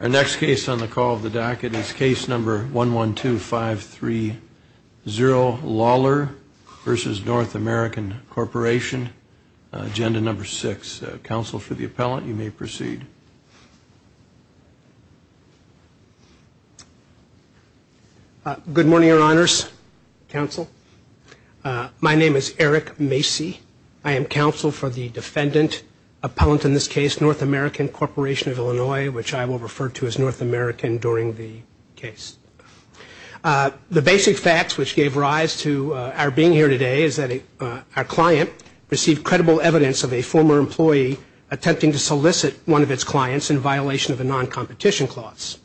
Our next case on the call of the docket is case number one one two five three zero Lawlor versus North American Corporation agenda number six. Counsel for the appellant you may proceed. Good morning your honors counsel my name is Eric Macy I am counsel for the defendant appellant in this case North American Corporation of Illinois which I will refer to as North American during the case. The basic facts which gave rise to our being here today is that our client received credible evidence of a former employee attempting to solicit one of its clients in violation of a non-competition clause.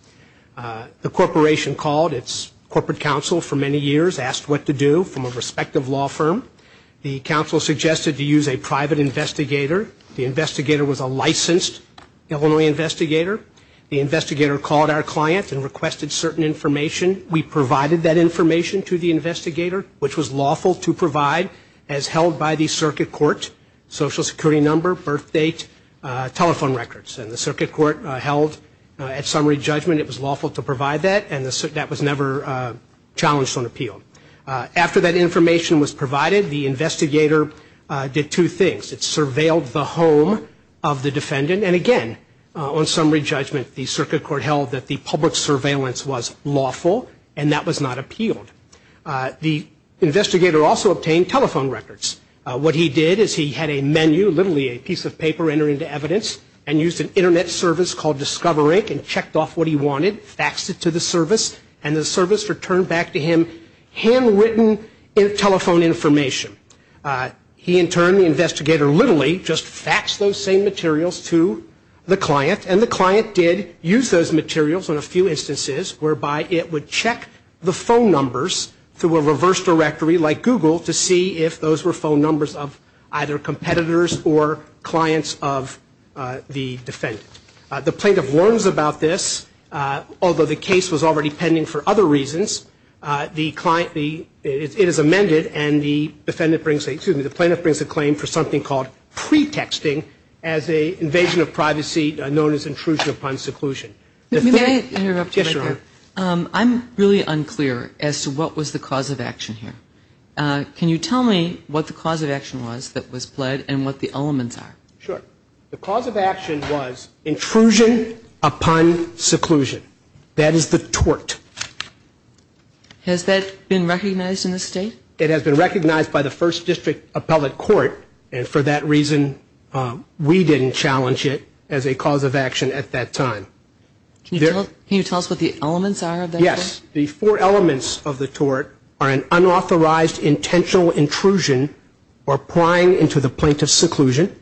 The corporation called its corporate counsel for many years asked what to do from a respective law firm. The counsel suggested to use a private investigator. The investigator was a licensed Illinois investigator. The investigator called our client and requested certain information. We provided that information to the investigator which was lawful to provide as held by the circuit court, social security number, birth date, telephone records and the circuit court held at summary judgment it was lawful to provide that and that was never challenged on appeal. After that information was provided the investigator did two things. It surveilled the home of the defendant and again on summary judgment the circuit court held that the public surveillance was lawful and that was not appealed. The investigator also obtained telephone records. What he did is he had a menu literally a piece of paper enter into evidence and used an internet service called Discover Inc and checked off what he wanted faxed it to the service and the service returned back to him handwritten telephone information. He in turn the investigator literally just faxed those same materials to the client and the client did use those materials on a few instances whereby it would check the phone numbers through a reverse directory like Google to see if those were phone numbers of either competitors or clients of the defendant. The plaintiff learns about this although the case was already pending for other reasons. It is amended and the defendant brings excuse me the plaintiff brings a claim for something called pre-texting as a invasion of privacy known as intrusion upon seclusion. I'm really unclear as to what was the cause of action here. Can you tell me what the cause of action was that was pled and what the elements are? Sure. The cause of action was intrusion upon seclusion. That is the tort. Has that been recognized in the state? It has been recognized by the first district appellate court and for that reason we didn't challenge it as a cause of action at that time. Can you tell us what the elements are? Yes. The four elements of the tort are an unauthorized intentional intrusion or prying into the plaintiff's seclusion.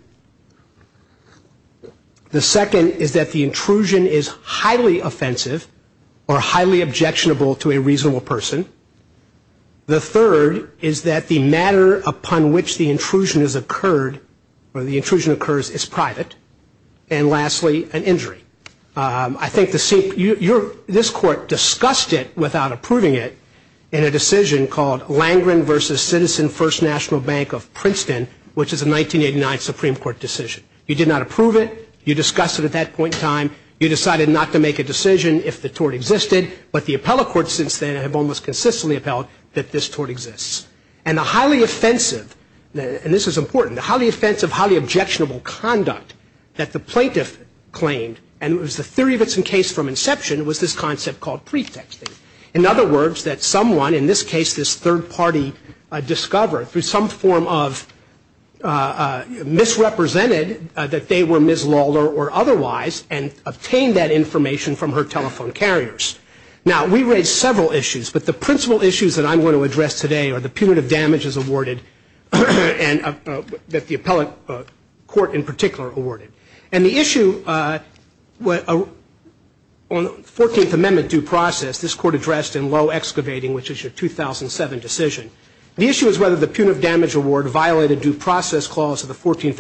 The second is that the intrusion is highly offensive or highly objectionable to a reasonable person. The third is that the matter upon which the intrusion has occurred or the intrusion occurs is private. And lastly an injury. I think this court discussed it without approving it in a decision called Supreme Court decision. You did not approve it. You discussed it at that point in time. You decided not to make a decision if the tort existed. But the appellate court since then have almost consistently upheld that this tort exists. And the highly offensive, and this is important, the highly offensive, highly objectionable conduct that the plaintiff claimed and it was the theory of its in case from inception was this concept called pretexting. In other words that someone, in this case this third party, discovered through some form of misrepresented that they were Ms. Lawler or otherwise and obtained that information from her telephone carriers. Now we raised several issues, but the principal issues that I'm going to address today are the punitive damages awarded that the appellate court in particular awarded. And the issue on 14th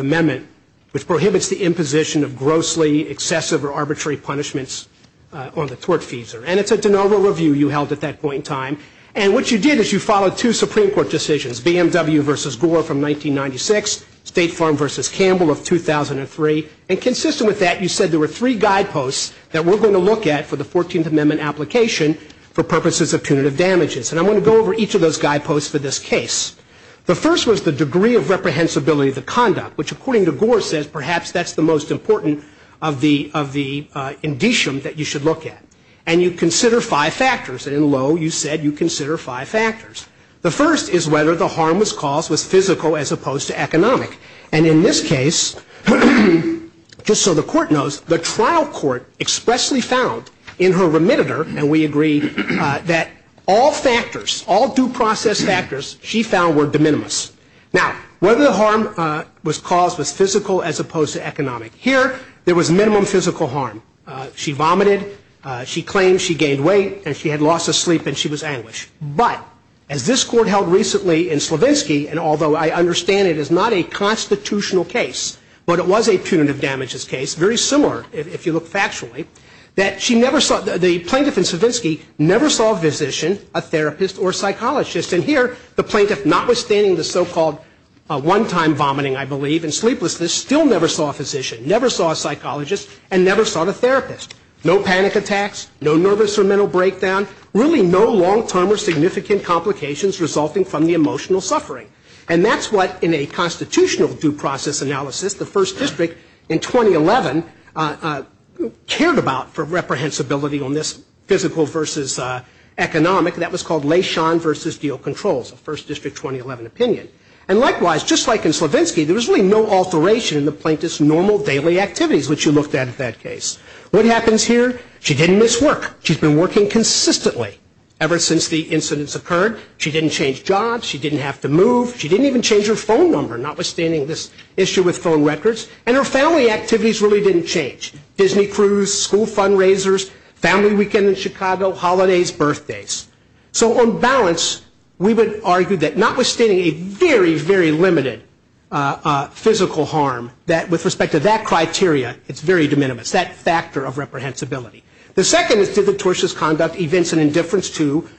Amendment which prohibits the imposition of grossly, excessive, or arbitrary punishments on the tortfeasor. And it's a de novo review you held at that point in time. And what you did is you followed two Supreme Court decisions, BMW v. Gore from 1996, State Farm v. Campbell of 2003. And consistent with that you said there were three guideposts that we're going to look at for the application for purposes of punitive damages. And I'm going to go over each of those guideposts for this case. The first was the degree of reprehensibility of the conduct, which according to Gore says perhaps that's the most important of the, of the indicium that you should look at. And you consider five factors, and in Lowe you said you consider five factors. The first is whether the harm was caused was physical as opposed to economic. And in this case, just so the court knows, the trial court expressly found in her and admitted her, and we agree, that all factors, all due process factors, she found were de minimis. Now, whether the harm was caused was physical as opposed to economic. Here, there was minimum physical harm. She vomited, she claimed she gained weight, and she had lost her sleep, and she was anguished. But as this court held recently in Slavinsky, and although I understand it is not a constitutional case, but it was a punitive damages case, very similar if you look at Slavinsky, never saw a physician, a therapist, or a psychologist. And here, the plaintiff, notwithstanding the so-called one-time vomiting, I believe, and sleeplessness, still never saw a physician, never saw a psychologist, and never saw the therapist. No panic attacks, no nervous or mental breakdown, really no long-term or significant complications resulting from the emotional suffering. And that's what, in a constitutional due process analysis, the First District in 2011 cared about for reprehensibility on this physical versus economic. That was called Leishon versus Deal Controls, a First District 2011 opinion. And likewise, just like in Slavinsky, there was really no alteration in the plaintiff's normal daily activities, which you looked at in that case. What happens here? She didn't miss work. She's been working consistently ever since the incidents occurred. She didn't change jobs. She didn't have to move. She didn't even change her phone number, notwithstanding this issue with phone records. And her family activities really didn't change. Disney cruise, school fundraisers, family weekend in Chicago, holidays, birthdays. So on balance, we would argue that, notwithstanding a very, very limited physical harm, that with respect to that criteria, it's very de minimis, that factor of reprehensibility. The second is did the tortious conduct evince an indifference to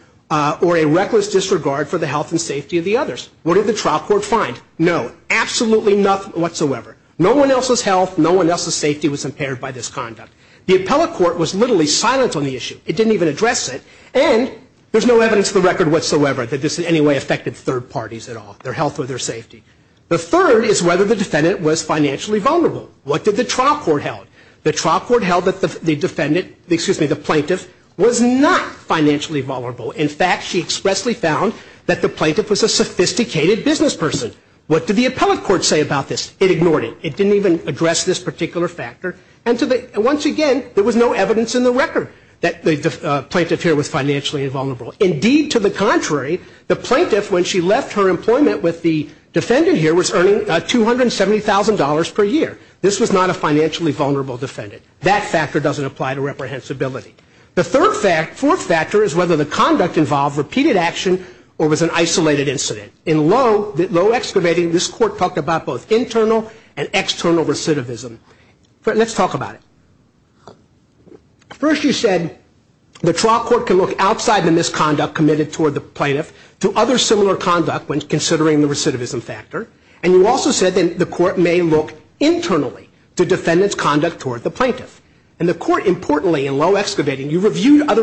or a reckless disregard for the health and safety of the others? What did the trial court find? No. Absolutely nothing whatsoever. No one else's health, no one else's safety was impaired by this conduct. The appellate court was literally silent on the issue. It didn't even address it. And there's no evidence of the record whatsoever that this in any way affected third parties at all, their health or their safety. The third is whether the defendant was financially vulnerable. What did the trial court held? The trial court held that the defendant, excuse me, the plaintiff was not financially vulnerable. In fact, she expressly found that the plaintiff was a sophisticated business person. What did the appellate court say about this? It ignored it. It didn't even address this particular factor. And once again, there was no evidence in the record that the plaintiff here was financially invulnerable. Indeed, to the contrary, the plaintiff, when she left her employment with the defendant here, was earning $270,000 per year. This was not a financially vulnerable defendant. That factor doesn't apply to reprehensibility. The fourth factor is whether the conduct involved repeated action or was an isolated incident. In low excavating, this court talked about both internal and external recidivism. Let's talk about it. First, you said the trial court can look outside the misconduct committed toward the plaintiff to other similar conduct when considering the recidivism factor. And you also said that the court may look internally to defendant's conduct toward the plaintiff. And the court, importantly, in low excavating, you came to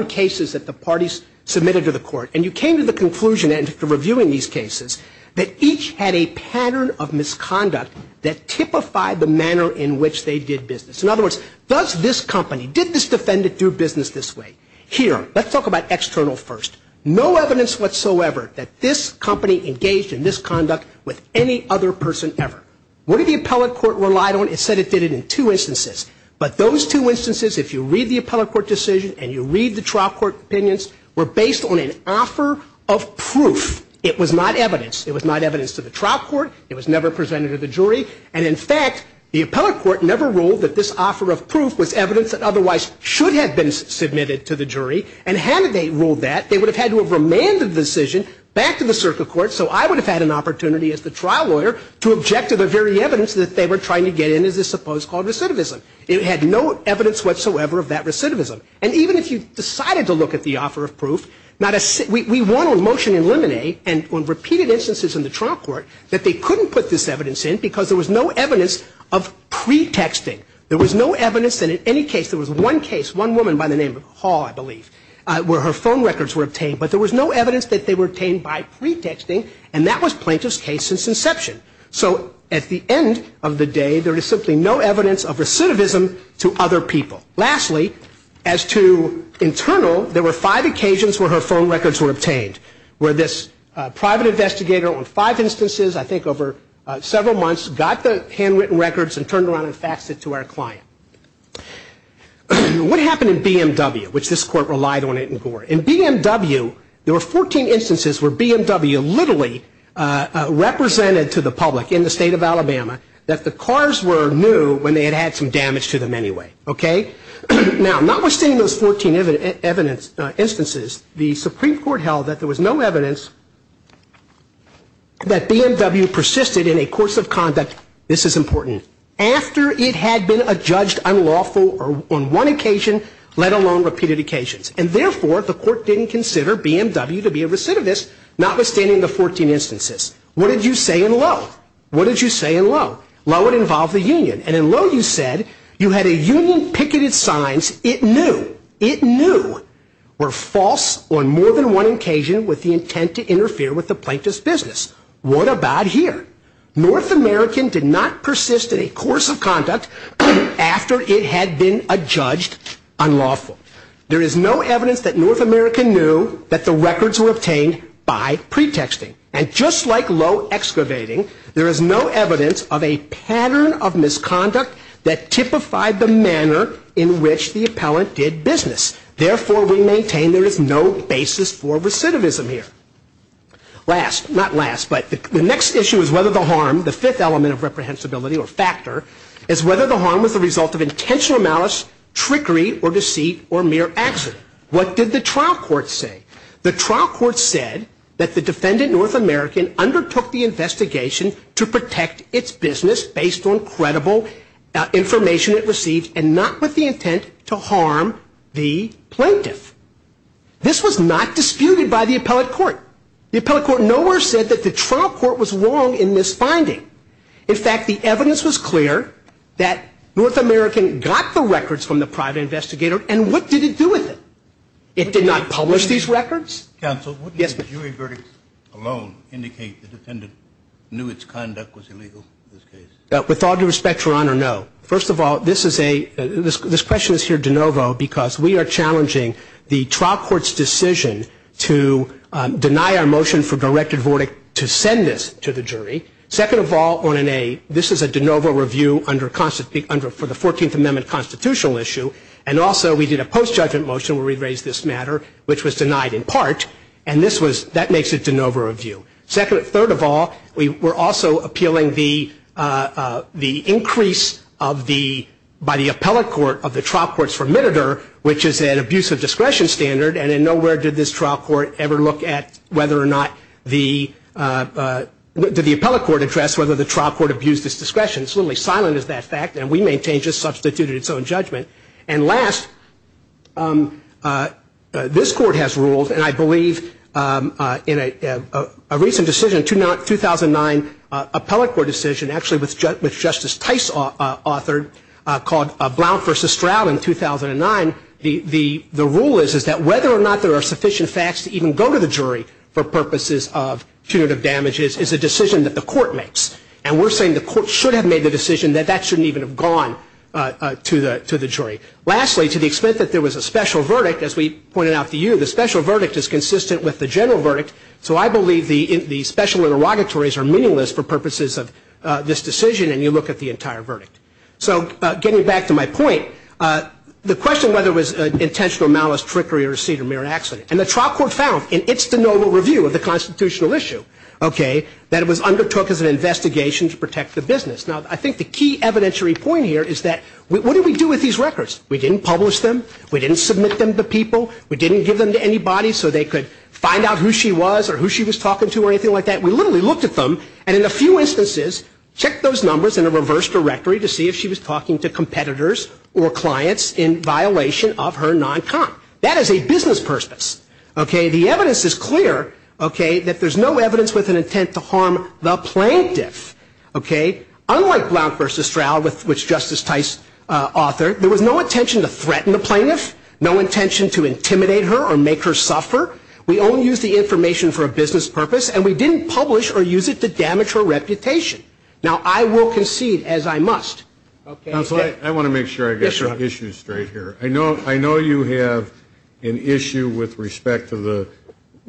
the conclusion after reviewing these cases that each had a pattern of misconduct that typified the manner in which they did business. In other words, does this company, did this defendant do business this way? Here, let's talk about external first. No evidence whatsoever that this company engaged in this conduct with any other person ever. What did the appellate court rely on? It said it did it in two instances. But those two instances, if you read the appellate court decision and you read the trial court opinions, were based on an offer of proof. It was not evidence. It was not evidence to the trial court. It was never presented to the jury. And in fact, the appellate court never ruled that this offer of proof was evidence that otherwise should have been submitted to the jury. And had they ruled that, they would have had to have remanded the decision back to the circuit court. So I would have had an opportunity as the trial lawyer to object to the very evidence that they were trying to get in as this supposed called recidivism. It had no evidence whatsoever of that recidivism. And even if you decided to look at the offer of proof, we won on motion in limine and on repeated instances in the trial court that they couldn't put this evidence in because there was no evidence of pretexting. There was no evidence that in any case, there was one case, one woman by the name of Hall, I believe, where her phone records were obtained. But there was no evidence that they were obtained by pretexting, and that was plaintiff's case since inception. So at the end of the day, there is simply no evidence of recidivism to other people. Lastly, as to internal, there were five occasions where her phone records were obtained, where this private investigator on five instances, I think over several months, got the handwritten records and turned around and faxed it to our client. What happened in BMW, which this court relied on it in Gore? In BMW, there were 14 instances where BMW literally represented to the public in the state of Alabama that the cars were new when they had had some damage to them anyway. Okay? Now, notwithstanding those 14 instances, the Supreme Court held that there was no evidence that BMW persisted in a course of conduct, this is important, after it had been adjudged unlawful on one occasion, let alone repeated occasions. And therefore, the court didn't consider BMW to be a recidivist, notwithstanding the 14 instances. What did you say in Lowe? What did you say in Lowe? Lowe would involve the union. And in Lowe, you said you had a union picketed signs it knew, it knew were false on more than one occasion with the intent to interfere with the plaintiff's business. What about here? North American did not persist in a course of conduct after it had been adjudged unlawful. There is no evidence that North American knew that the records were obtained by pretexting. And just like Lowe excavating, there is no evidence of a pattern of misconduct that typified the manner in which the appellant did business. Therefore, we maintain there is no basis for recidivism here. Last, not last, but the next issue is whether the harm, the fifth element of reprehensibility or factor, is whether the harm was the result of intentional malice, trickery or deceit or mere accident. What did the trial court say? The trial court said that the defendant, North American, undertook the investigation to protect its business based on credible information it received and not with the intent to harm the plaintiff. This was not disputed by the appellate court. The appellate court nowhere said that the trial court was wrong in this finding. In fact, the evidence was clear that North American got the records from the private investigator and what did it do with it? It did not publish these records? Counsel, wouldn't a jury verdict alone indicate the defendant knew its conduct was illegal? With all due respect, Your Honor, no. First of all, this is a, this question is here de novo because we are challenging the trial court's decision to deny our motion for directed verdict to send this to the jury. Second of all, this is a de novo review for the 14th Amendment constitutional issue and also we did a post-judgment motion where we raised this matter which was and this was, that makes it de novo review. Second, third of all, we were also appealing the, the increase of the, by the appellate court of the trial court's formiditor which is an abuse of discretion standard and in nowhere did this trial court ever look at whether or not the, did the appellate court address whether the trial court abused its discretion. It's literally silent as that fact and we maintain just substituted its own judgment. And last, this court has ruled and I believe in a, a recent decision, 2009 appellate court decision actually which Justice Tice authored called Blount v. Stroud in 2009. The, the, the rule is that whether or not there are sufficient facts to even go to the jury for purposes of punitive damages is a decision that the court makes. And we're saying the court should have made the decision that that shouldn't even have gone to the, to the jury. Lastly, to the extent that there was a special verdict is consistent with the general verdict. So I believe the, the special interrogatories are meaningless for purposes of this decision and you look at the entire verdict. So getting back to my point, the question whether it was intentional malice, trickery, or a seat or mere accident. And the trial court found in its de novo review of the constitutional issue, okay, that it was undertook as an investigation to protect the business. Now, I think the key evidentiary point here is that what did we do with these records? We didn't publish them. We didn't submit them to people. We didn't give them to anybody. So they could find out who she was or who she was talking to or anything like that. We literally looked at them. And in a few instances, check those numbers in a reverse directory to see if she was talking to competitors or clients in violation of her non-con. That is a business purpose, okay? The evidence is clear, okay, that there's no evidence with an intent to harm the plaintiff, okay? Unlike Blount v. Stroud, which Justice Tice authored, there was no intention to threaten the plaintiff, no intention to intimidate her or make her suffer. We only used the information for a business purpose, and we didn't publish or use it to damage her reputation. Now, I will concede, as I must, okay? Counsel, I want to make sure I get your issues straight here. I know you have an issue with respect to the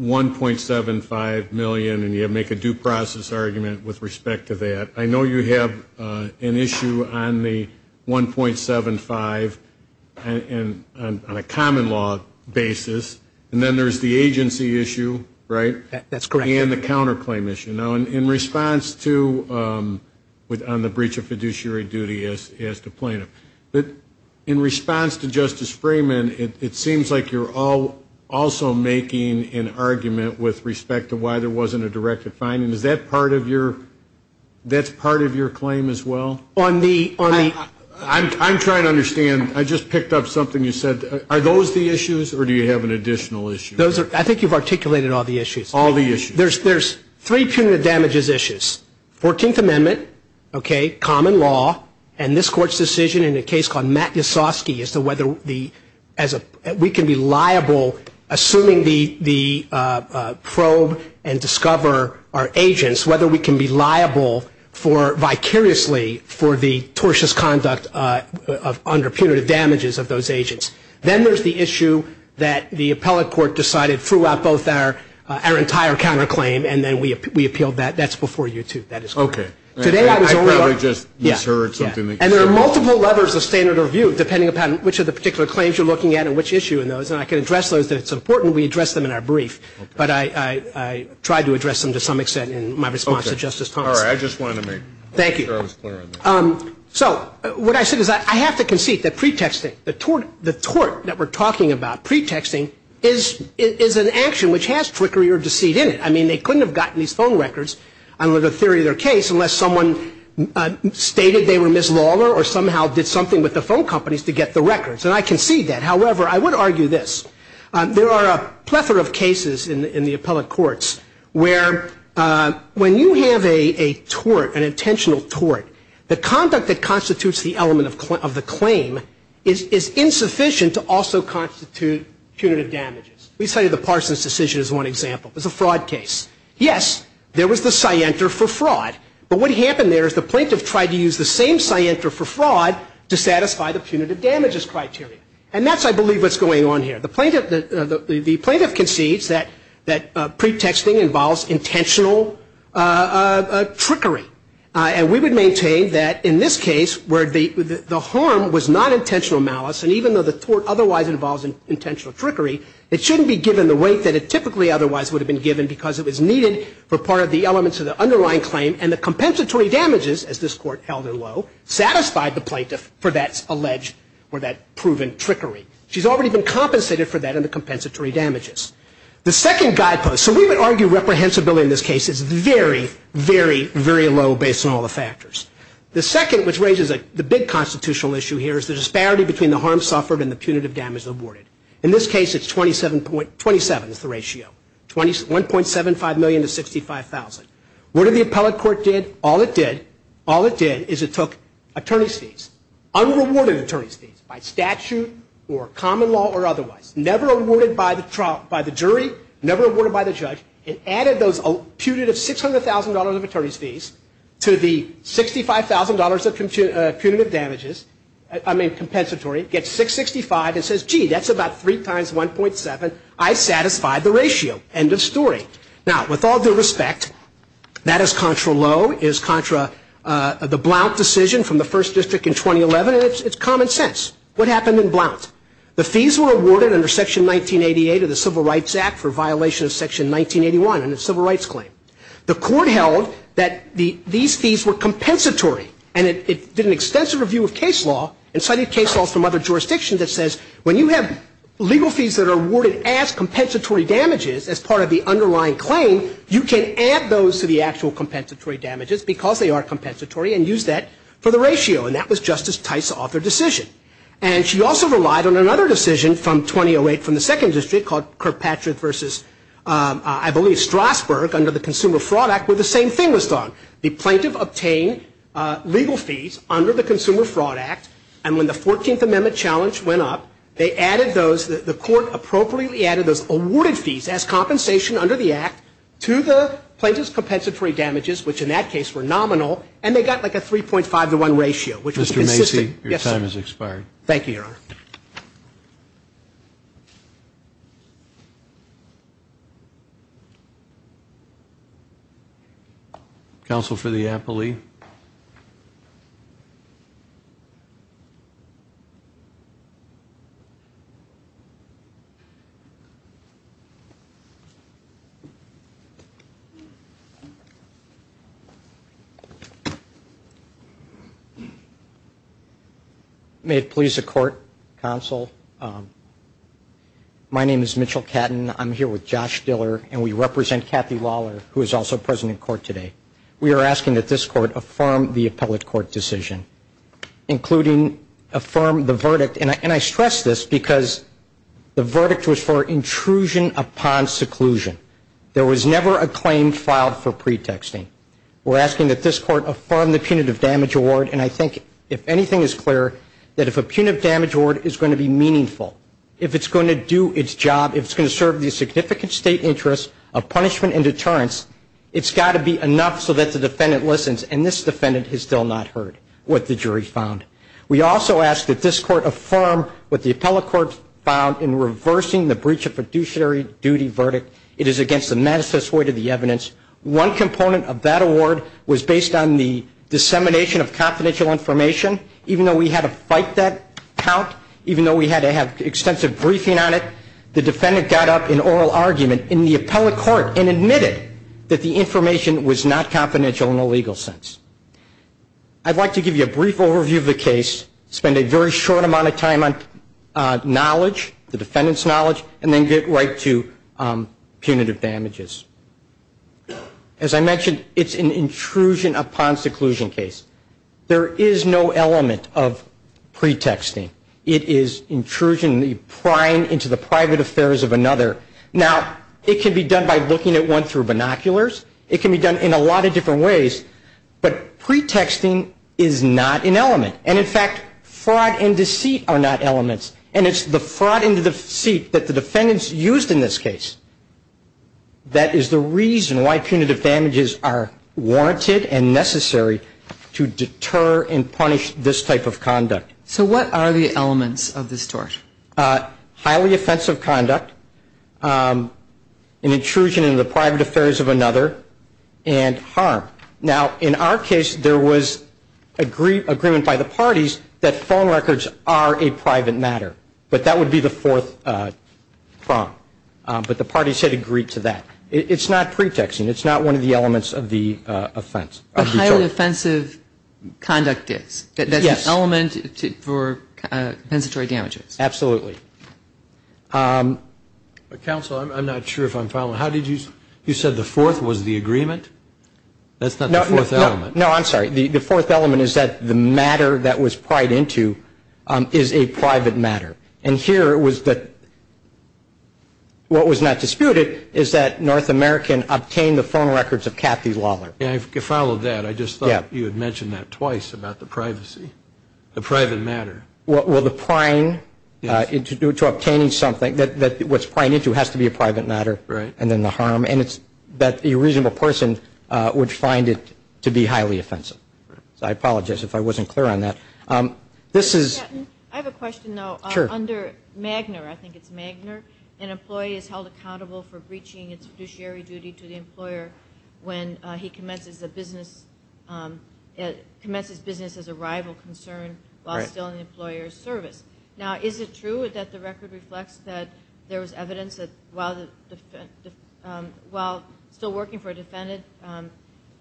$1.75 million, and you make a due process argument with respect to that. I know you have an issue on the $1.75 on a common law basis, and then there's the agency issue, right? That's correct. And the counterclaim issue. Now, in response to, on the breach of fiduciary duty as to plaintiff, in response to Justice Freeman, it seems like you're also making an argument with respect to why there wasn't a directed finding. Is that part of your, that's part of your claim as well? On the, on the... I'm, I'm trying to understand. I just picked up something you said. Are those the issues, or do you have an additional issue? Those are, I think you've articulated all the issues. All the issues. There's, there's three punitive damages issues. Fourteenth Amendment, okay, common law, and this Court's decision in a case called Matt Yasoski as to whether we can be liable for, vicariously, for the tortious conduct of, under punitive damages of those agents. Then there's the issue that the appellate court decided throughout both our, our entire counterclaim, and then we, we appealed that. That's before you, too. That is correct. Okay. Today I was only... I probably just misheard something that you said. Yeah, yeah. And there are multiple levers of standard of review, depending upon which of the particular claims you're looking at and which issue in those, and I can address those. It's important we address them in our brief, but I, I, I tried to address them to some extent in my response to Justice Thomas. Okay. All right. I just wanted to make sure I was clear on that. Thank you. So, what I said is I, I have to concede that pretexting, the tort, the tort that we're talking about, pretexting, is, is an action which has trickery or deceit in it. I mean, they couldn't have gotten these phone records, under the theory of their case, unless someone stated they were Ms. Lawler, or somehow did something with the phone companies to get the records. And I think there are a plethora of cases in, in the appellate courts where when you have a, a tort, an intentional tort, the conduct that constitutes the element of, of the claim is, is insufficient to also constitute punitive damages. We cited the Parsons decision as one example. It was a fraud case. Yes, there was the scienter for fraud, but what happened there is the plaintiff tried to use the same scienter for fraud to satisfy the punitive damages criteria. And that's, I believe, what's going on here. The plaintiff, the, the plaintiff concedes that, that pretexting involves intentional trickery. And we would maintain that in this case, where the, the harm was not intentional malice, and even though the tort otherwise involves intentional trickery, it shouldn't be given the rate that it typically otherwise would have been given because it was needed for part of the elements of the underlying claim, and the compensatory damages, as this court held it low, satisfied the plaintiff for that alleged or that proven trickery. She's already been compensated for that in the compensatory damages. The second guidepost, so we would argue reprehensibility in this case is very, very, very low based on all the factors. The second, which raises a, the big constitutional issue here, is the disparity between the harm suffered and the punitive damage awarded. In this case, it's 27 point, 27 is the ratio, 21.75 million to 65,000. What did the appellate court did? All it did, all it did is it took attorney's fees, unrewarded attorney's fees by statute or common law or otherwise, never awarded by the trial, by the jury, never awarded by the judge, and added those punitive $600,000 of attorney's fees to the $65,000 of punitive damages, I mean compensatory, gets 665 and says, gee, that's about three times 1.7, I satisfied the ratio, end of story. Now, with all due respect, that is contra low, is contra the Blount decision from the first district in 2011, and it's common sense. What happened in Blount? The fees were awarded under Section 1988 of the Civil Rights Act for violation of Section 1981 in the Civil Rights Claim. The court held that the, these fees were compensatory, and it, it did an extensive review of case law and cited case laws from other jurisdictions that says, when you have legal fees that are awarded as compensatory damages as part of the underlying claim, you can add those to the actual compensatory damages because they are compensatory and use that for the ratio, and that was Justice Tice's other decision. And she also relied on another decision from 2008 from the second district called Kirkpatrick versus, I believe, Strasburg under the Consumer Fraud Act where the same thing was done. The plaintiff obtained legal fees under the Consumer Fraud Act, and when the 14th Amendment challenge went up, they added those, the court appropriately added those awarded fees as compensation under the act to the plaintiff's compensatory damages, which in that case were nominal, and they got like a 3.5 to 1 ratio, which was consistent. Mr. Macy, your time has expired. Counsel for the appellee. May it please the court, counsel, my name is Mitchell Catton. I'm here with Josh Diller, and we represent Kathy Lawler, who is also present in court today. We are asking that this court affirm the appellate court decision, including affirm the verdict, and I stress this because the verdict was for intrusion upon seclusion. There was never a claim filed for pretexting. We're asking that this court affirm the punitive damage award, and I think if anything is clear, that if a punitive damage award is going to be meaningful, if it's going to do its job, if it's going to serve the significant state interest of punishment and deterrence, it's got to be enough so that the jury found. We also ask that this court affirm what the appellate court found in reversing the breach of fiduciary duty verdict. It is against the manifesto weight of the evidence. One component of that award was based on the dissemination of confidential information. Even though we had to fight that count, even though we had to have extensive briefing on it, the defendant got up in oral argument in the appellate court and admitted that the information was not confidential in a legal sense. I'd like to give you a brief overview of the case, spend a very short amount of time on knowledge, the defendant's knowledge, and then get right to punitive damages. As I mentioned, it's an intrusion upon seclusion case. There is no element of pretexting. It is intrusion, the prying into the private affairs of another. Now, it can be done by looking at one through binoculars. It can be done in a lot of different ways. But pretexting is not an element. And in fact, fraud and deceit are not elements. And it's the fraud and the deceit that the defendants used in this case that is the reason why punitive damages are warranted and necessary to deter and punish this type of conduct. So what are the elements of this tort? Highly offensive conduct. An intrusion into the private affairs of another. And harm. Now, in our case, there was agreement by the parties that phone records are a private matter. But that would be the fourth prong. But the parties had agreed to that. It's not pretexting. It's not one of the elements of the offense. The highly offensive conduct is. That's an element for compensatory damages. Absolutely. But counsel, I'm not sure if I'm following. How did you you said the fourth was the agreement? That's not the fourth element. No, I'm sorry. The fourth element is that the matter that was pried into is a private matter. And here it was that what was not disputed is that North American obtained the phone records of Kathy Lawler. Yeah, I followed that. I just thought you had mentioned that twice about the privacy. The private matter. Well, the prying into obtaining something that what's prying into has to be a private matter. And then the harm. And it's that the reasonable person would find it to be highly offensive. So I apologize if I wasn't clear on that. This is I have a question, though, under Magner. I think it's Magner. An employee is held accountable for breaching its fiduciary duty to the employer when he commences the business. It commences business as a rival concern while still in the employer's service. Now, is it true that the record reflects that there was evidence that while the while still working for a defendant,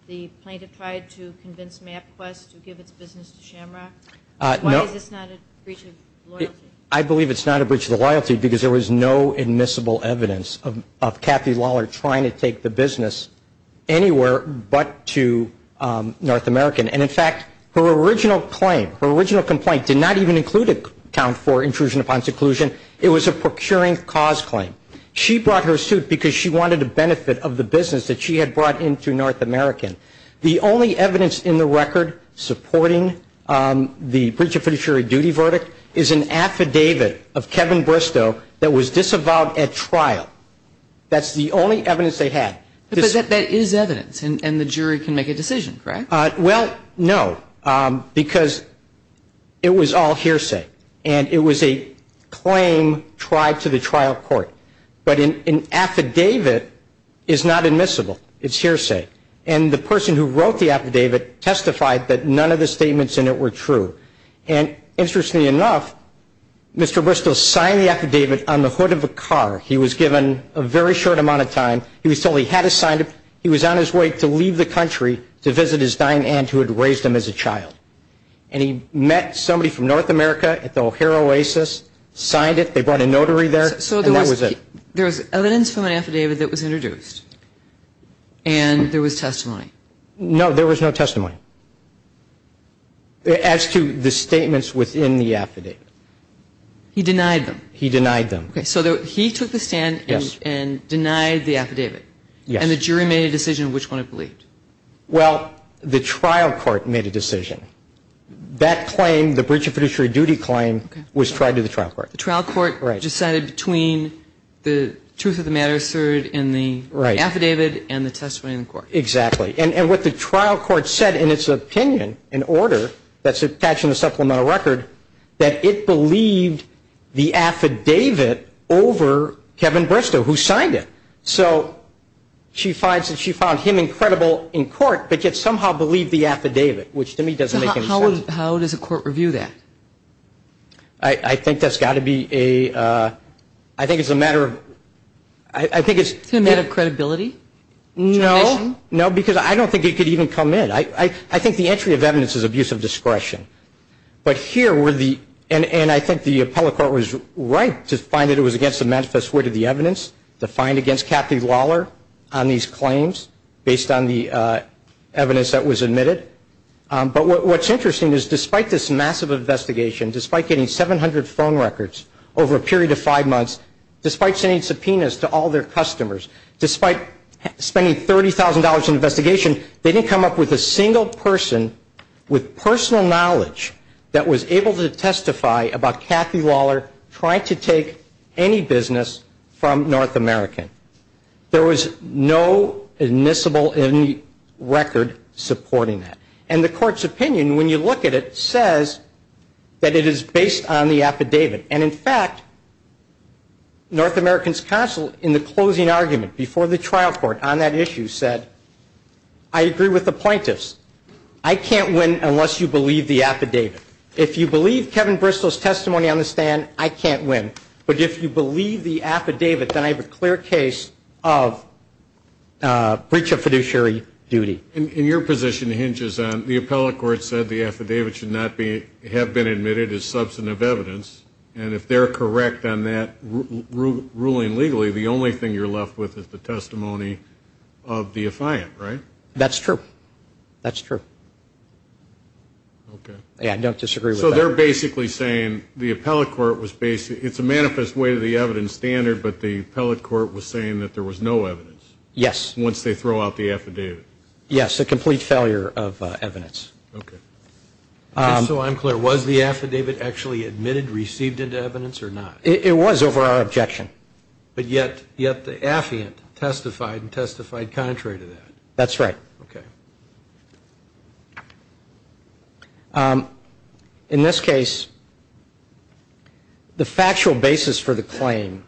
the plaintiff tried to convince MapQuest to give its business to Shamrock? Why is this not a breach of loyalty? I believe it's not a breach of the loyalty because there was no admissible evidence of Kathy Lawler trying to take the business anywhere but to North American. And in fact, her original claim, her original complaint did not even include a count for intrusion upon seclusion. It was a procuring cause claim. She brought her suit because she wanted the benefit of the business that she had brought into North American. The only evidence in the record supporting the breach of fiduciary duty verdict is an affidavit of Kevin Bristow that was disavowed at trial. That's the only evidence they had. But that is evidence and the jury can make a decision, correct? Well, no, because it was all hearsay and it was a claim tried to the trial court. But an affidavit is not admissible. It's hearsay. And the person who wrote the affidavit testified that none of the statements in it were true. And interestingly enough, Mr. Bristow signed the affidavit on the hood of a car. He was given a very short amount of time. He was told he had to sign and who had raised him as a child. And he met somebody from North America at the O'Hare Oasis, signed it. They brought a notary there. So that was it. There was evidence from an affidavit that was introduced and there was testimony. No, there was no testimony. As to the statements within the affidavit, he denied them, he denied them. So he took the stand and denied the affidavit and the jury made a decision which one it believed. Well, the trial court made a decision. That claim, the breach of fiduciary duty claim was tried to the trial court. The trial court decided between the truth of the matter asserted in the affidavit and the testimony in court. Exactly. And what the trial court said in its opinion, in order, that's attached in the supplemental record, that it believed the affidavit over Kevin Bristow who signed it. So she finds that she found him incredible in court, but yet somehow believed the affidavit, which to me doesn't make any sense. How does a court review that? I think that's got to be a, uh, I think it's a matter of, I think it's a matter of credibility. No, no, because I don't think it could even come in. I think the entry of evidence is abuse of discretion. But here were the, and I think the appellate court was right to find that it was against the manifest wit of the evidence, to find against Kathy Lawler on these claims based on the, uh, evidence that was admitted. Um, but what's interesting is despite this massive investigation, despite getting 700 phone records over a period of five months, despite sending subpoenas to all their customers, despite spending $30,000 in investigation, they didn't come up with a single person with personal knowledge that was able to testify about Kathy Lawler trying to take any business from North American. There was no admissible record supporting that. And the court's opinion, when you look at it, says that it is based on the affidavit. And in fact, North American's counsel in the closing argument before the trial court on that issue said, I agree with the affidavit. If you believe Kevin Bristol's testimony on the stand, I can't win. But if you believe the affidavit, then I have a clear case of, uh, breach of fiduciary duty. And your position hinges on the appellate court said the affidavit should not be, have been admitted as substantive evidence. And if they're correct on that ruling legally, the only thing you're left with is the testimony of the affiant, right? That's true. That's true. Okay. Yeah, I don't disagree. So they're basically saying the appellate court was basically, it's a manifest way to the evidence standard, but the appellate court was saying that there was no evidence. Yes. Once they throw out the affidavit. Yes. A complete failure of evidence. Okay. Um, so I'm clear. Was the affidavit actually admitted, received into evidence or not? It was over our objection. But yet, yet the affiant testified and testified contrary to that. That's right. Okay. Um, in this case, the factual basis for the claim,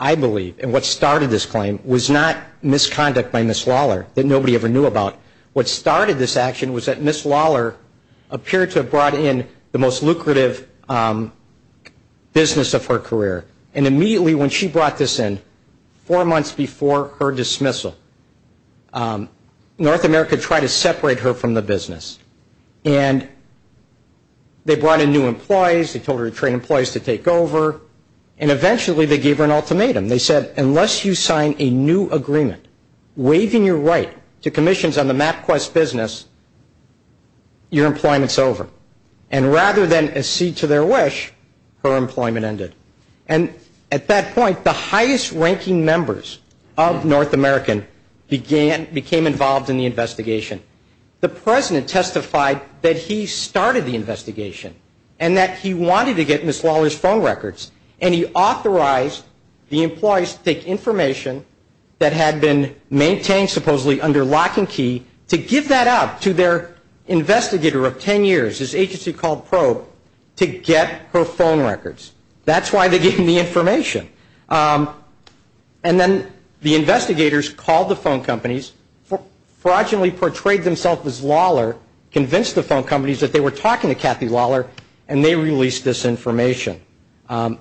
I believe, and what started this claim was not misconduct by Ms. Lawler that nobody ever knew about. What started this action was that Ms. Lawler appeared to have brought in the most lucrative, um, business of her career. And immediately when she brought this in, four months before her dismissal, um, North America tried to separate her from the business. And they brought in new employees. They told her to train employees to take over. And eventually they gave her an ultimatum. They said, unless you sign a new agreement, waiving your right to commissions on the MapQuest business, your employment's over. And rather than accede to their wish, her employment ended. And at that point, the highest ranking members of North American began, became involved in the investigation. The president testified that he started the investigation and that he wanted to get Ms. Lawler's phone records. And he authorized the employees to take information that had been maintained, supposedly under lock and key, to give that up to their investigator of 10 years, his agency called Probe, to get her phone records. That's why they gave him the information. Um, and then the investigators called the phone companies, fraudulently portrayed themselves as Lawler, convinced the phone companies that they were talking to Kathy Lawler, and they released this information. Um,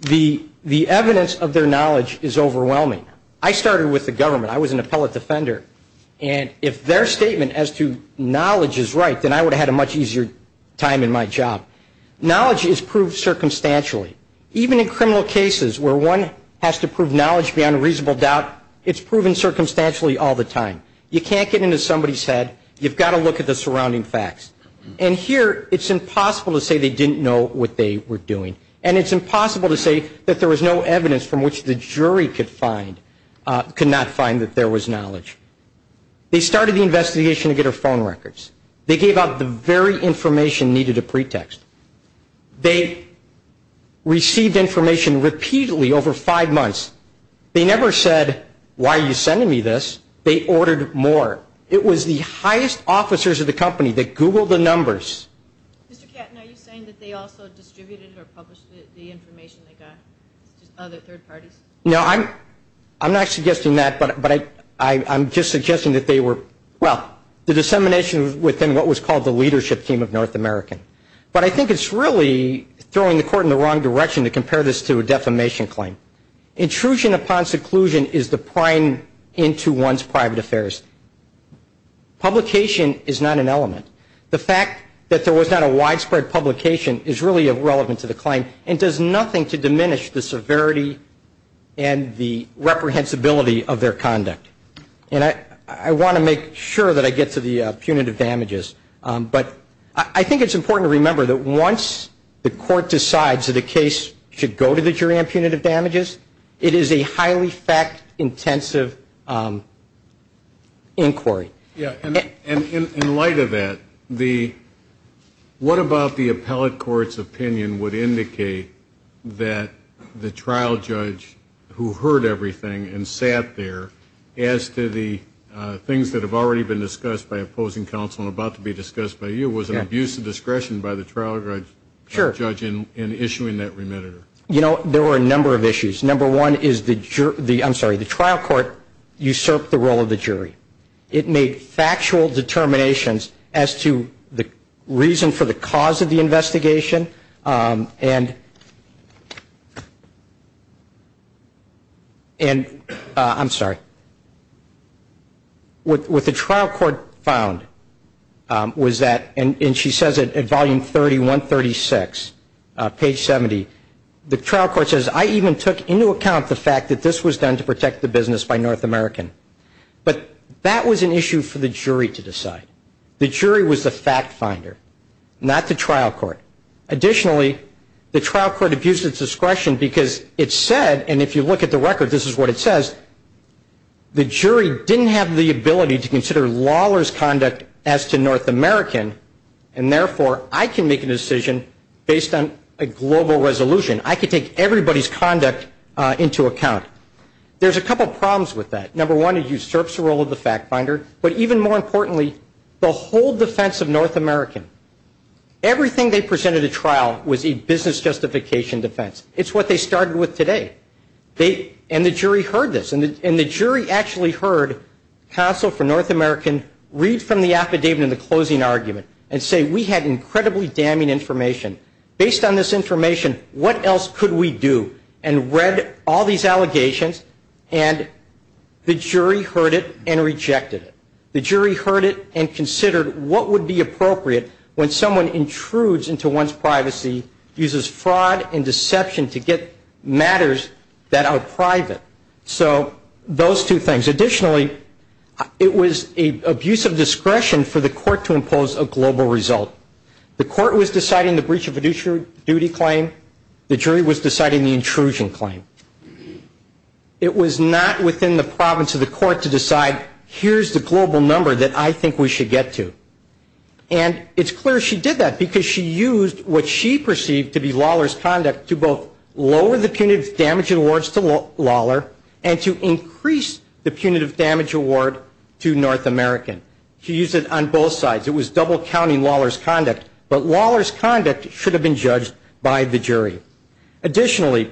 the, the evidence of their knowledge is overwhelming. I started with the government. I was an appellate defender. And if their statement as to knowledge is right, then I would have had a much easier time in my job. Knowledge is proved circumstantially. Even in criminal cases where one has to prove knowledge beyond a reasonable doubt, it's proven circumstantially all the time. You can't get into somebody's head. You've got to look at the surrounding facts. And here, it's impossible to say they didn't know what they were doing. And it's impossible to say that there was no evidence from which the jury could find, uh, could not find that there was knowledge. They started the investigation to get her phone records. They gave up the very information needed a pretext. They received information repeatedly over five months. They never said, why are you sending me this? They ordered more. It was the highest officers of the company that Googled the numbers. Mr. Katton, are you saying that they also distributed or published the information they got? Other third parties? No, I'm, I'm not suggesting that, but, but I, I, I'm just suggesting that they were, well, the dissemination was within what was called the leadership team of North American. But I think it's really throwing the court in the wrong direction to compare this to a defamation claim. Intrusion upon seclusion is the prime into one's private affairs. Publication is not an element. The fact that there was not a widespread publication is really irrelevant to the claim and does nothing to diminish the severity and the reprehensibility of their conduct. And I, I want to make sure that I get to the punitive damages. But I, I think it's important to remember that once the court decides that a case should go to the jury on punitive damages, it is a highly fact intensive inquiry. Yeah, and, and in, in light of that, the, what about the appellate court's opinion would indicate that the trial judge who heard everything and sat there as to the things that have already been discussed by opposing counsel and about to be discussed by you was an abuse of discretion by the trial judge. Sure. In issuing that remand. You know, there were a number of issues. Number one is the, I'm sorry, the trial court usurped the role of the jury. It made factual determinations as to the reason for the fact finder, not the trial court. Additionally, the trial court abused its discretion because it said, and if you look at the record, this is what it says, the jury didn't have the ability to consider Lawler's conduct as to North American, and therefore, I can make a decision based on a global resolution. I could take everybody's conduct into account. There's a couple problems with that. Number one, it usurps the role of the fact finder, but even more importantly, the whole defense of North American. Everything they presented at trial was a business justification defense. It's what they started with And the jury actually heard counsel for North American read from the affidavit in the closing argument and say, we had incredibly damning information. Based on this information, what else could we do? And read all these allegations and the jury heard it and rejected it. The jury heard it and considered what would be appropriate when someone intrudes into one's privacy, uses fraud and those two things. Additionally, it was an abuse of discretion for the court to impose a global result. The court was deciding the breach of a duty claim. The jury was deciding the intrusion claim. It was not within the province of the court to decide, here's the global number that I think we should get to. And it's clear she did that because she used what she perceived to be Lawler's conduct to increase the punitive damage award to North American. She used it on both sides. It was double counting Lawler's conduct, but Lawler's conduct should have been judged by the jury. Additionally,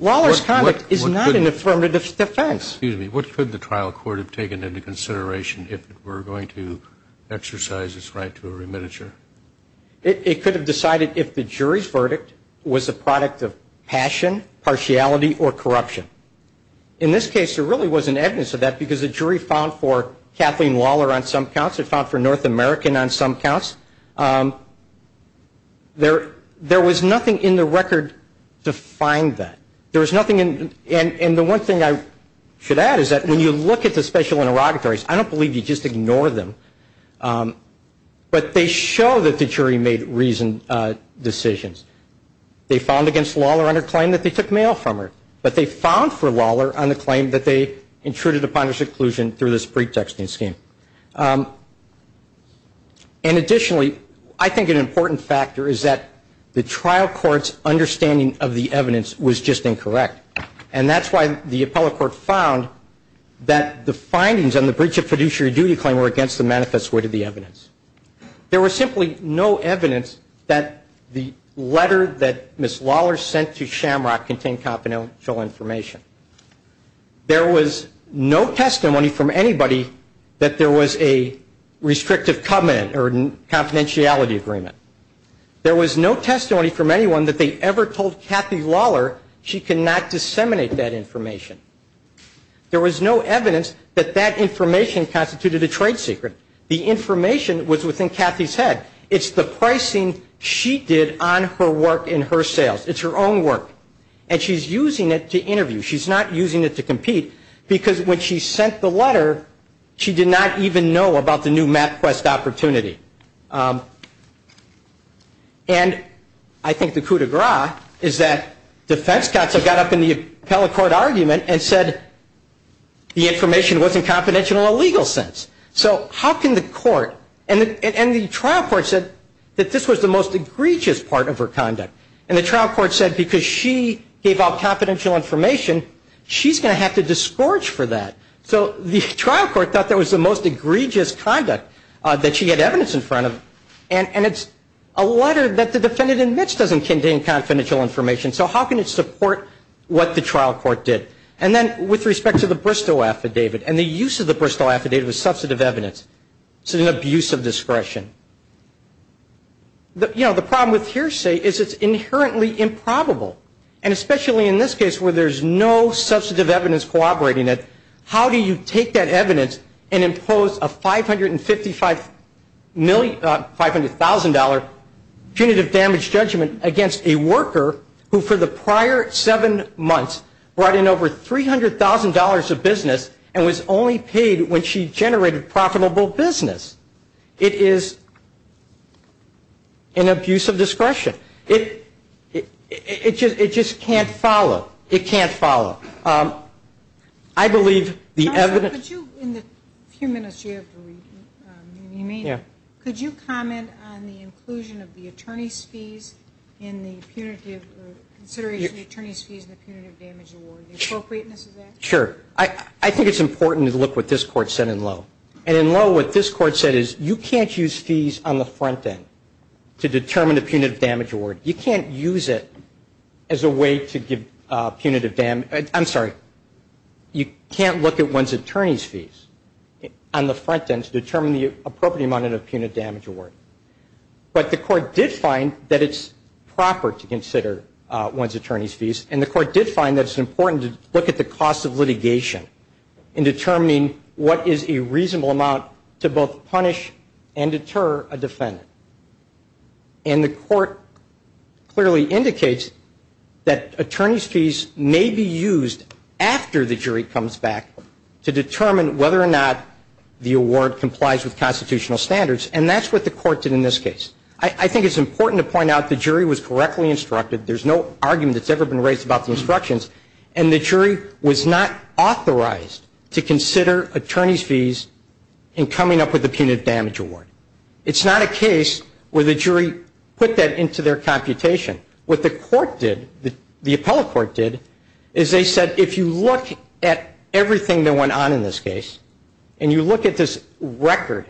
Lawler's conduct is not an affirmative defense. Excuse me, what could the trial court have taken into consideration if it were going to exercise its right to a remittiture? It could have decided if the jury's verdict was a product of passion, partiality or corruption. In this case, there really was an evidence of that because the jury found for Kathleen Lawler on some counts, it found for North American on some counts. There was nothing in the record to find that. There was nothing in, and the one thing I should add is that when you look at the special interrogatories, I don't believe you just ignore them, but they show that the jury made reasoned decisions. They found against Lawler on her claim that they took mail from her, but they found for Lawler on the claim that they intruded upon her seclusion through this pretexting scheme. And additionally, I think an important factor is that the trial court's understanding of the evidence was just incorrect, and that's why the appellate court found that the findings on the breach of fiduciary duty claim were against the manifest way to the evidence. There was simply no evidence that the evidence did not contain confidential information. There was no testimony from anybody that there was a restrictive covenant or confidentiality agreement. There was no testimony from anyone that they ever told Kathy Lawler she could not disseminate that information. There was no evidence that that information constituted a trade secret. The information was within Kathy's head. It's the pricing she did on her work in her sales. It's her own work, and she's using it to interview. She's not using it to compete, because when she sent the letter, she did not even know about the new MapQuest opportunity. And I think the coup de grace is that defense counsel got up in the appellate court argument and said the information wasn't confidential in a legal sense. So how can the court, and the trial court said that this was the most egregious part of her conduct. And the trial court said because she gave out confidential information, she's going to have to discourage for that. So the trial court thought that was the most egregious conduct that she had evidence in front of. And it's a letter that the defendant admits doesn't contain confidential information, so how can it support what the trial court did? And then with respect to the Bristow affidavit, and the use of the Bristow affidavit was substantive evidence. It's an abuse of discretion. You know, the problem with hearsay is it's inherently improbable. And especially in this case where there's no substantive evidence corroborating it, how do you take that evidence and impose a $500,000 punitive damage judgment against a worker who for the prior seven months brought in over $300,000 of business and was only paid when she generated profitable business? It is an abuse of discretion. It just can't follow. It can't follow. I believe the evidence ‑‑ Counsel, could you, in the few minutes you have remaining, could you comment on the inclusion of the attorney's fees in the punitive, consideration of the ‑‑ Sure. I think it's important to look at what this court said in Lowe. And in Lowe, what this court said is you can't use fees on the front end to determine the punitive damage award. You can't use it as a way to give punitive damage ‑‑ I'm sorry, you can't look at one's attorney's fees on the front end to determine the appropriate amount of punitive damage award. But the court did find that it's proper to consider one's attorney's fees, and the cost of litigation in determining what is a reasonable amount to both punish and deter a defendant. And the court clearly indicates that attorney's fees may be used after the jury comes back to determine whether or not the award complies with constitutional standards. And that's what the court did in this case. I think it's important to point out the jury was correctly instructed. There's no argument that's ever been raised about the instructions. And the jury was not authorized to consider attorney's fees in coming up with the punitive damage award. It's not a case where the jury put that into their computation. What the court did, the appellate court did, is they said if you look at everything that went on in this case, and you look at this record,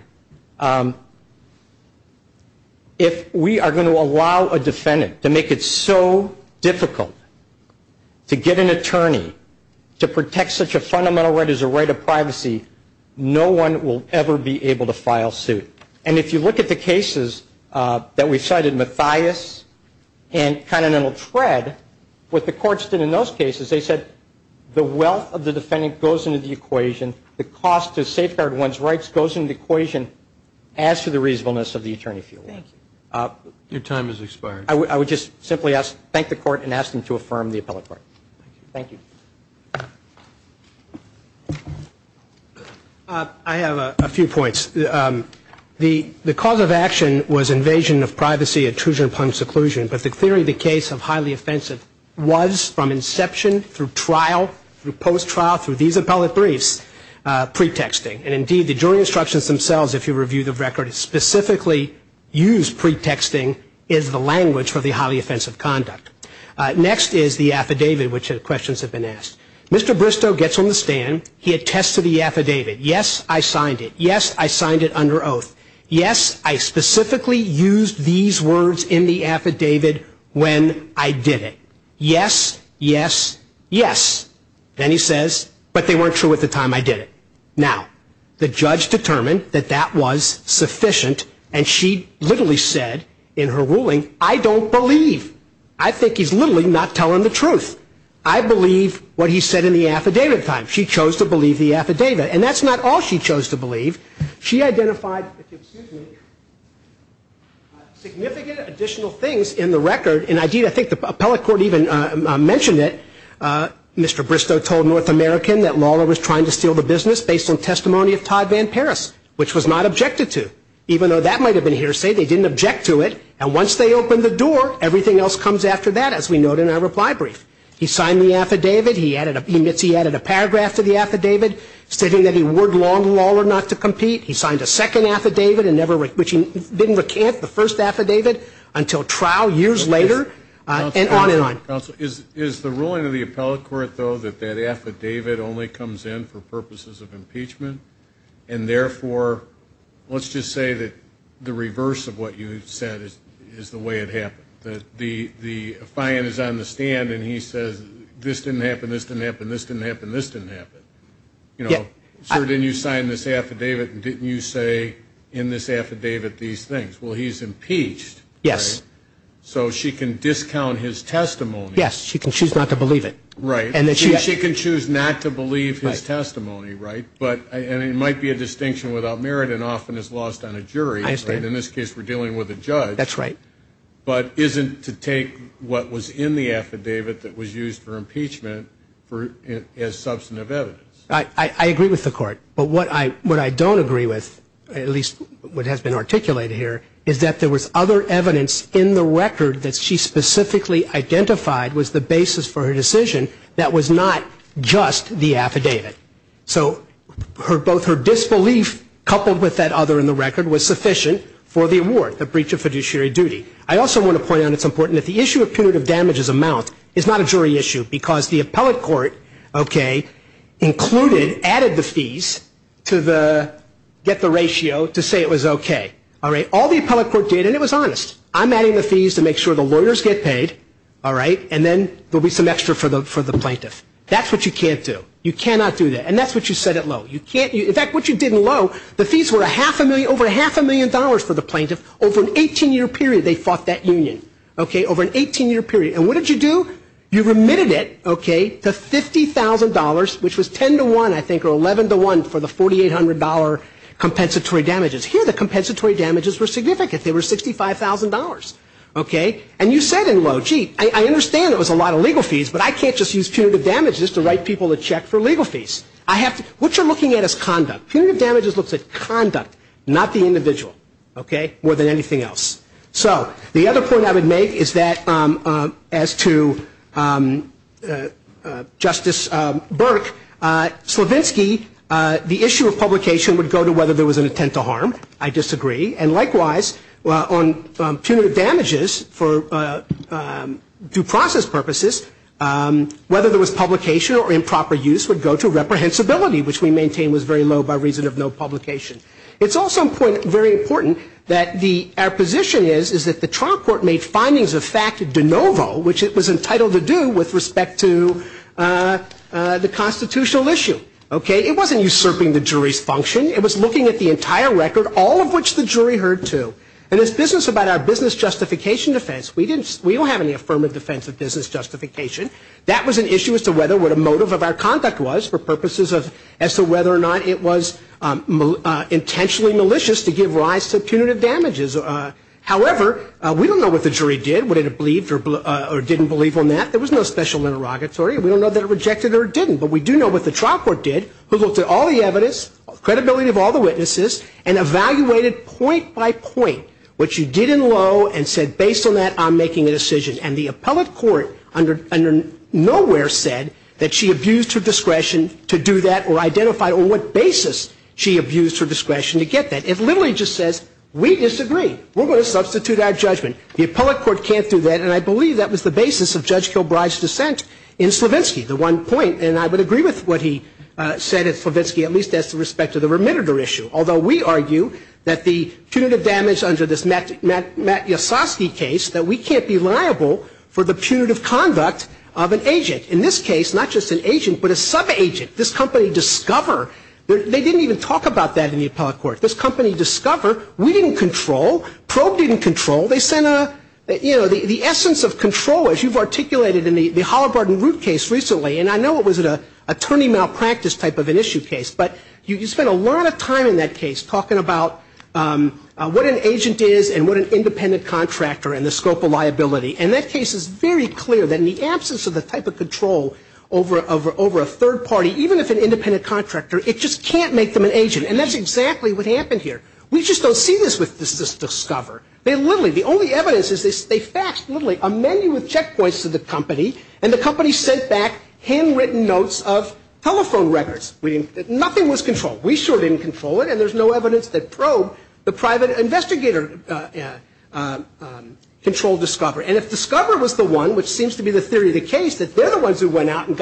if we are going to allow a defendant to make it so difficult to get an attorney to protect such a fundamental right as a right of privacy, no one will ever be able to file suit. And if you look at the cases that we cited, Mathias and Continental Tread, what the courts did in those cases, they said the wealth of the defendant goes into the equation, the cost to safeguard one's rights goes into the equation as to the reasonableness of the attorney fee award. Your time has expired. I would just simply thank the court and ask them to affirm the appellate court. Thank you. I have a few points. The cause of action was invasion of privacy, intrusion upon seclusion. But the theory of the case of highly offensive was from inception through trial, through post-trial, through these appellate briefs, pretexting. And indeed, the jury instructions themselves, if you review the record, specifically use pretexting as the language for the highly offensive conduct. Next is the affidavit, which questions have been asked. Mr. Bristow gets on the stand. He attests to the affidavit. Yes, I signed it. Yes, I signed it under oath. Yes, I specifically used these words in the affidavit when I did it. Yes, yes, yes. Then he says, but they weren't true at the time I did it. Now, the judge determined that that was sufficient and she literally said in her ruling, I don't believe. I think he's literally not telling the truth. I believe what he said in the affidavit at the time. She chose to believe the affidavit. And that's not all she chose to believe. She identified significant additional things in the record. And indeed, I think the appellate court even mentioned it. Mr. Bristow told North American that Lawler was trying to steal the business based on testimony of Todd Van Paris, which was not objected to. Even though that might have been hearsay, they didn't object to it. And once they opened the door, everything else comes after that, as we note in our reply brief. He signed the affidavit. He admits he added a paragraph to the affidavit stating that he warned Lawler not to compete. He signed a second can't, the first affidavit, until trial years later, and on and on. Is the ruling of the appellate court, though, that that affidavit only comes in for purposes of impeachment? And therefore, let's just say that the reverse of what you've said is the way it happened. That the the fine is on the stand and he says this didn't happen, this didn't happen, this didn't happen, this didn't happen. You know, sir, didn't you sign this affidavit and didn't you say in this affidavit these things? Well, he's impeached. Yes. So she can discount his testimony. Yes. She can choose not to believe it. Right. And she can choose not to believe his testimony, right? But, and it might be a distinction without merit and often is lost on a jury. I understand. In this case, we're dealing with a judge. That's right. But isn't to take what was in the affidavit that was used for impeachment for, as substantive evidence. I agree with the court. But what I, what I don't agree with, at least what has been articulated here, is that there was other evidence in the record that she specifically identified was the basis for her decision that was not just the affidavit. So her, both her disbelief coupled with that other in the record was sufficient for the award, the breach of fiduciary duty. I also want to point out it's important that the issue of punitive damages amount is not a jury issue because the appellate court, okay, included, added the fees to the, get the ratio to say it was okay. All right. All the appellate court did, and it was honest. I'm adding the fees to make sure the lawyers get paid. All right. And then there'll be some extra for the, for the plaintiff. That's what you can't do. You cannot do that. And that's what you set it low. You can't, in fact, what you did in low, the fees were a half a million, over a half a million dollars for the plaintiff. Over an 18 year period, they fought that union. Okay. Over an 18 year period. And what did you do? You remitted it, okay, to $50,000, which was 10 to 1, I think, or 11 to 1 for the $4,800 compensatory damages. Here the compensatory damages were significant. They were $65,000. Okay. And you said in low, gee, I, I understand it was a lot of legal fees, but I can't just use punitive damages to write people a check for legal fees. I have to, what you're looking at is conduct. Punitive damages looks at conduct, not the individual. Okay. More than anything else. So, the other point I would make is that as to Justice Burke, Slavinsky, the issue of publication would go to whether there was an intent to harm. I disagree. And likewise, on punitive damages for due process purposes, whether there was publication or improper use would go to reprehensibility, which we maintain was very low by reason of no publication. It's also important, very important, that the, our position is, is that the trial court made findings of fact de novo, which it was entitled to do with respect to the constitutional issue. Okay. It wasn't usurping the jury's function. It was looking at the entire record, all of which the jury heard too. And this business about our business justification defense, we didn't, we don't have any affirmative defense of business justification. That was an issue as to whether what a motive of our conduct was for purposes of, as to whether or not it was intentionally malicious to give rise to punitive damages. However, we don't know what the jury did, whether it believed or didn't believe on that. There was no special interrogatory. We don't know that it rejected or didn't. But we do know what the trial court did, who looked at all the evidence, credibility of all the witnesses, and evaluated point by point what you did in low and said, based on that, I'm making a decision. And the appellate court under, under nowhere said that she abused her discretion to do that or identified on what basis she abused her discretion to get that. It literally just says, we disagree. We're going to substitute our judgment. The appellate court can't do that. And I believe that was the basis of Judge Kilbride's dissent in Slavinsky, the one point. And I would agree with what he said at Slavinsky, at least as to respect to the remitter issue. Although we argue that the punitive damage under this Matt, Matt, Matt Yasoski case, that we can't be liable for the punitive conduct of an agent. In this case, not just an agent, but a sub-agent. This company Discover, they didn't even talk about that in the appellate court. This company Discover, we didn't control. Probe didn't control. They sent a, you know, the, the essence of control, as you've articulated in the, the Halliburton Root case recently, and I know it was an attorney malpractice type of an issue case, but you, you spent a lot of time in that case talking about what an agent is and what an independent contractor and the scope of liability. And that case is very clear that in the absence of the type of control over, over, over a third party, even if an independent contractor, it just can't make them an agent. And that's exactly what happened here. We just don't see this with this, this Discover. They literally, the only evidence is they, they faxed literally a menu of checkpoints to the company, and the company sent back handwritten notes of telephone records. We didn't, nothing was controlled. We sure didn't control it, and there's no evidence that Probe, the private investigator, controlled Discover. And if Discover was the one, which seems to be the theory of the case, that they're the ones who went out and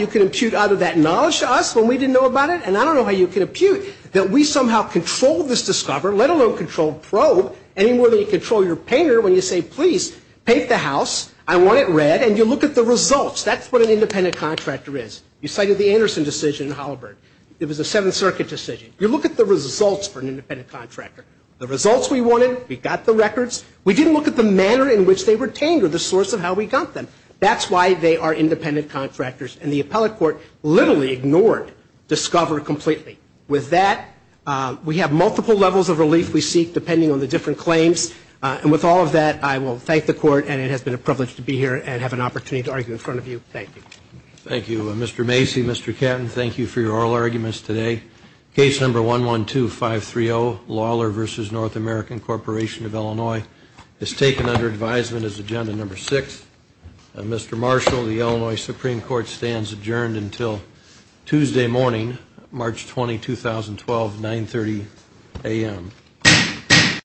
you can impute out of that knowledge to us when we didn't know about it, and I don't know how you can impute that we somehow controlled this Discover, let alone controlled Probe, any more than you control your painter when you say, please, paint the house, I want it red, and you look at the results. That's what an independent contractor is. You cited the Anderson decision in Holabird. It was a Seventh Circuit decision. You look at the results for an independent contractor. The results we wanted, we got the records. We didn't look at the manner in which they were tamed or the source of how we got them. That's why they are independent contractors. And the appellate court literally ignored Discover completely. With that, we have multiple levels of relief we seek depending on the different claims. And with all of that, I will thank the court, and it has been a privilege to be here and have an opportunity to argue in front of you. Thank you. Thank you. Mr. Macy, Mr. Catton, thank you for your oral arguments today. Case number 112530, Lawler v. North American Corporation of Illinois, is taken under advisement as agenda number six. Mr. Marshall, the Illinois Supreme Court stands adjourned until Tuesday morning, March 20, 2012, 930 a.m.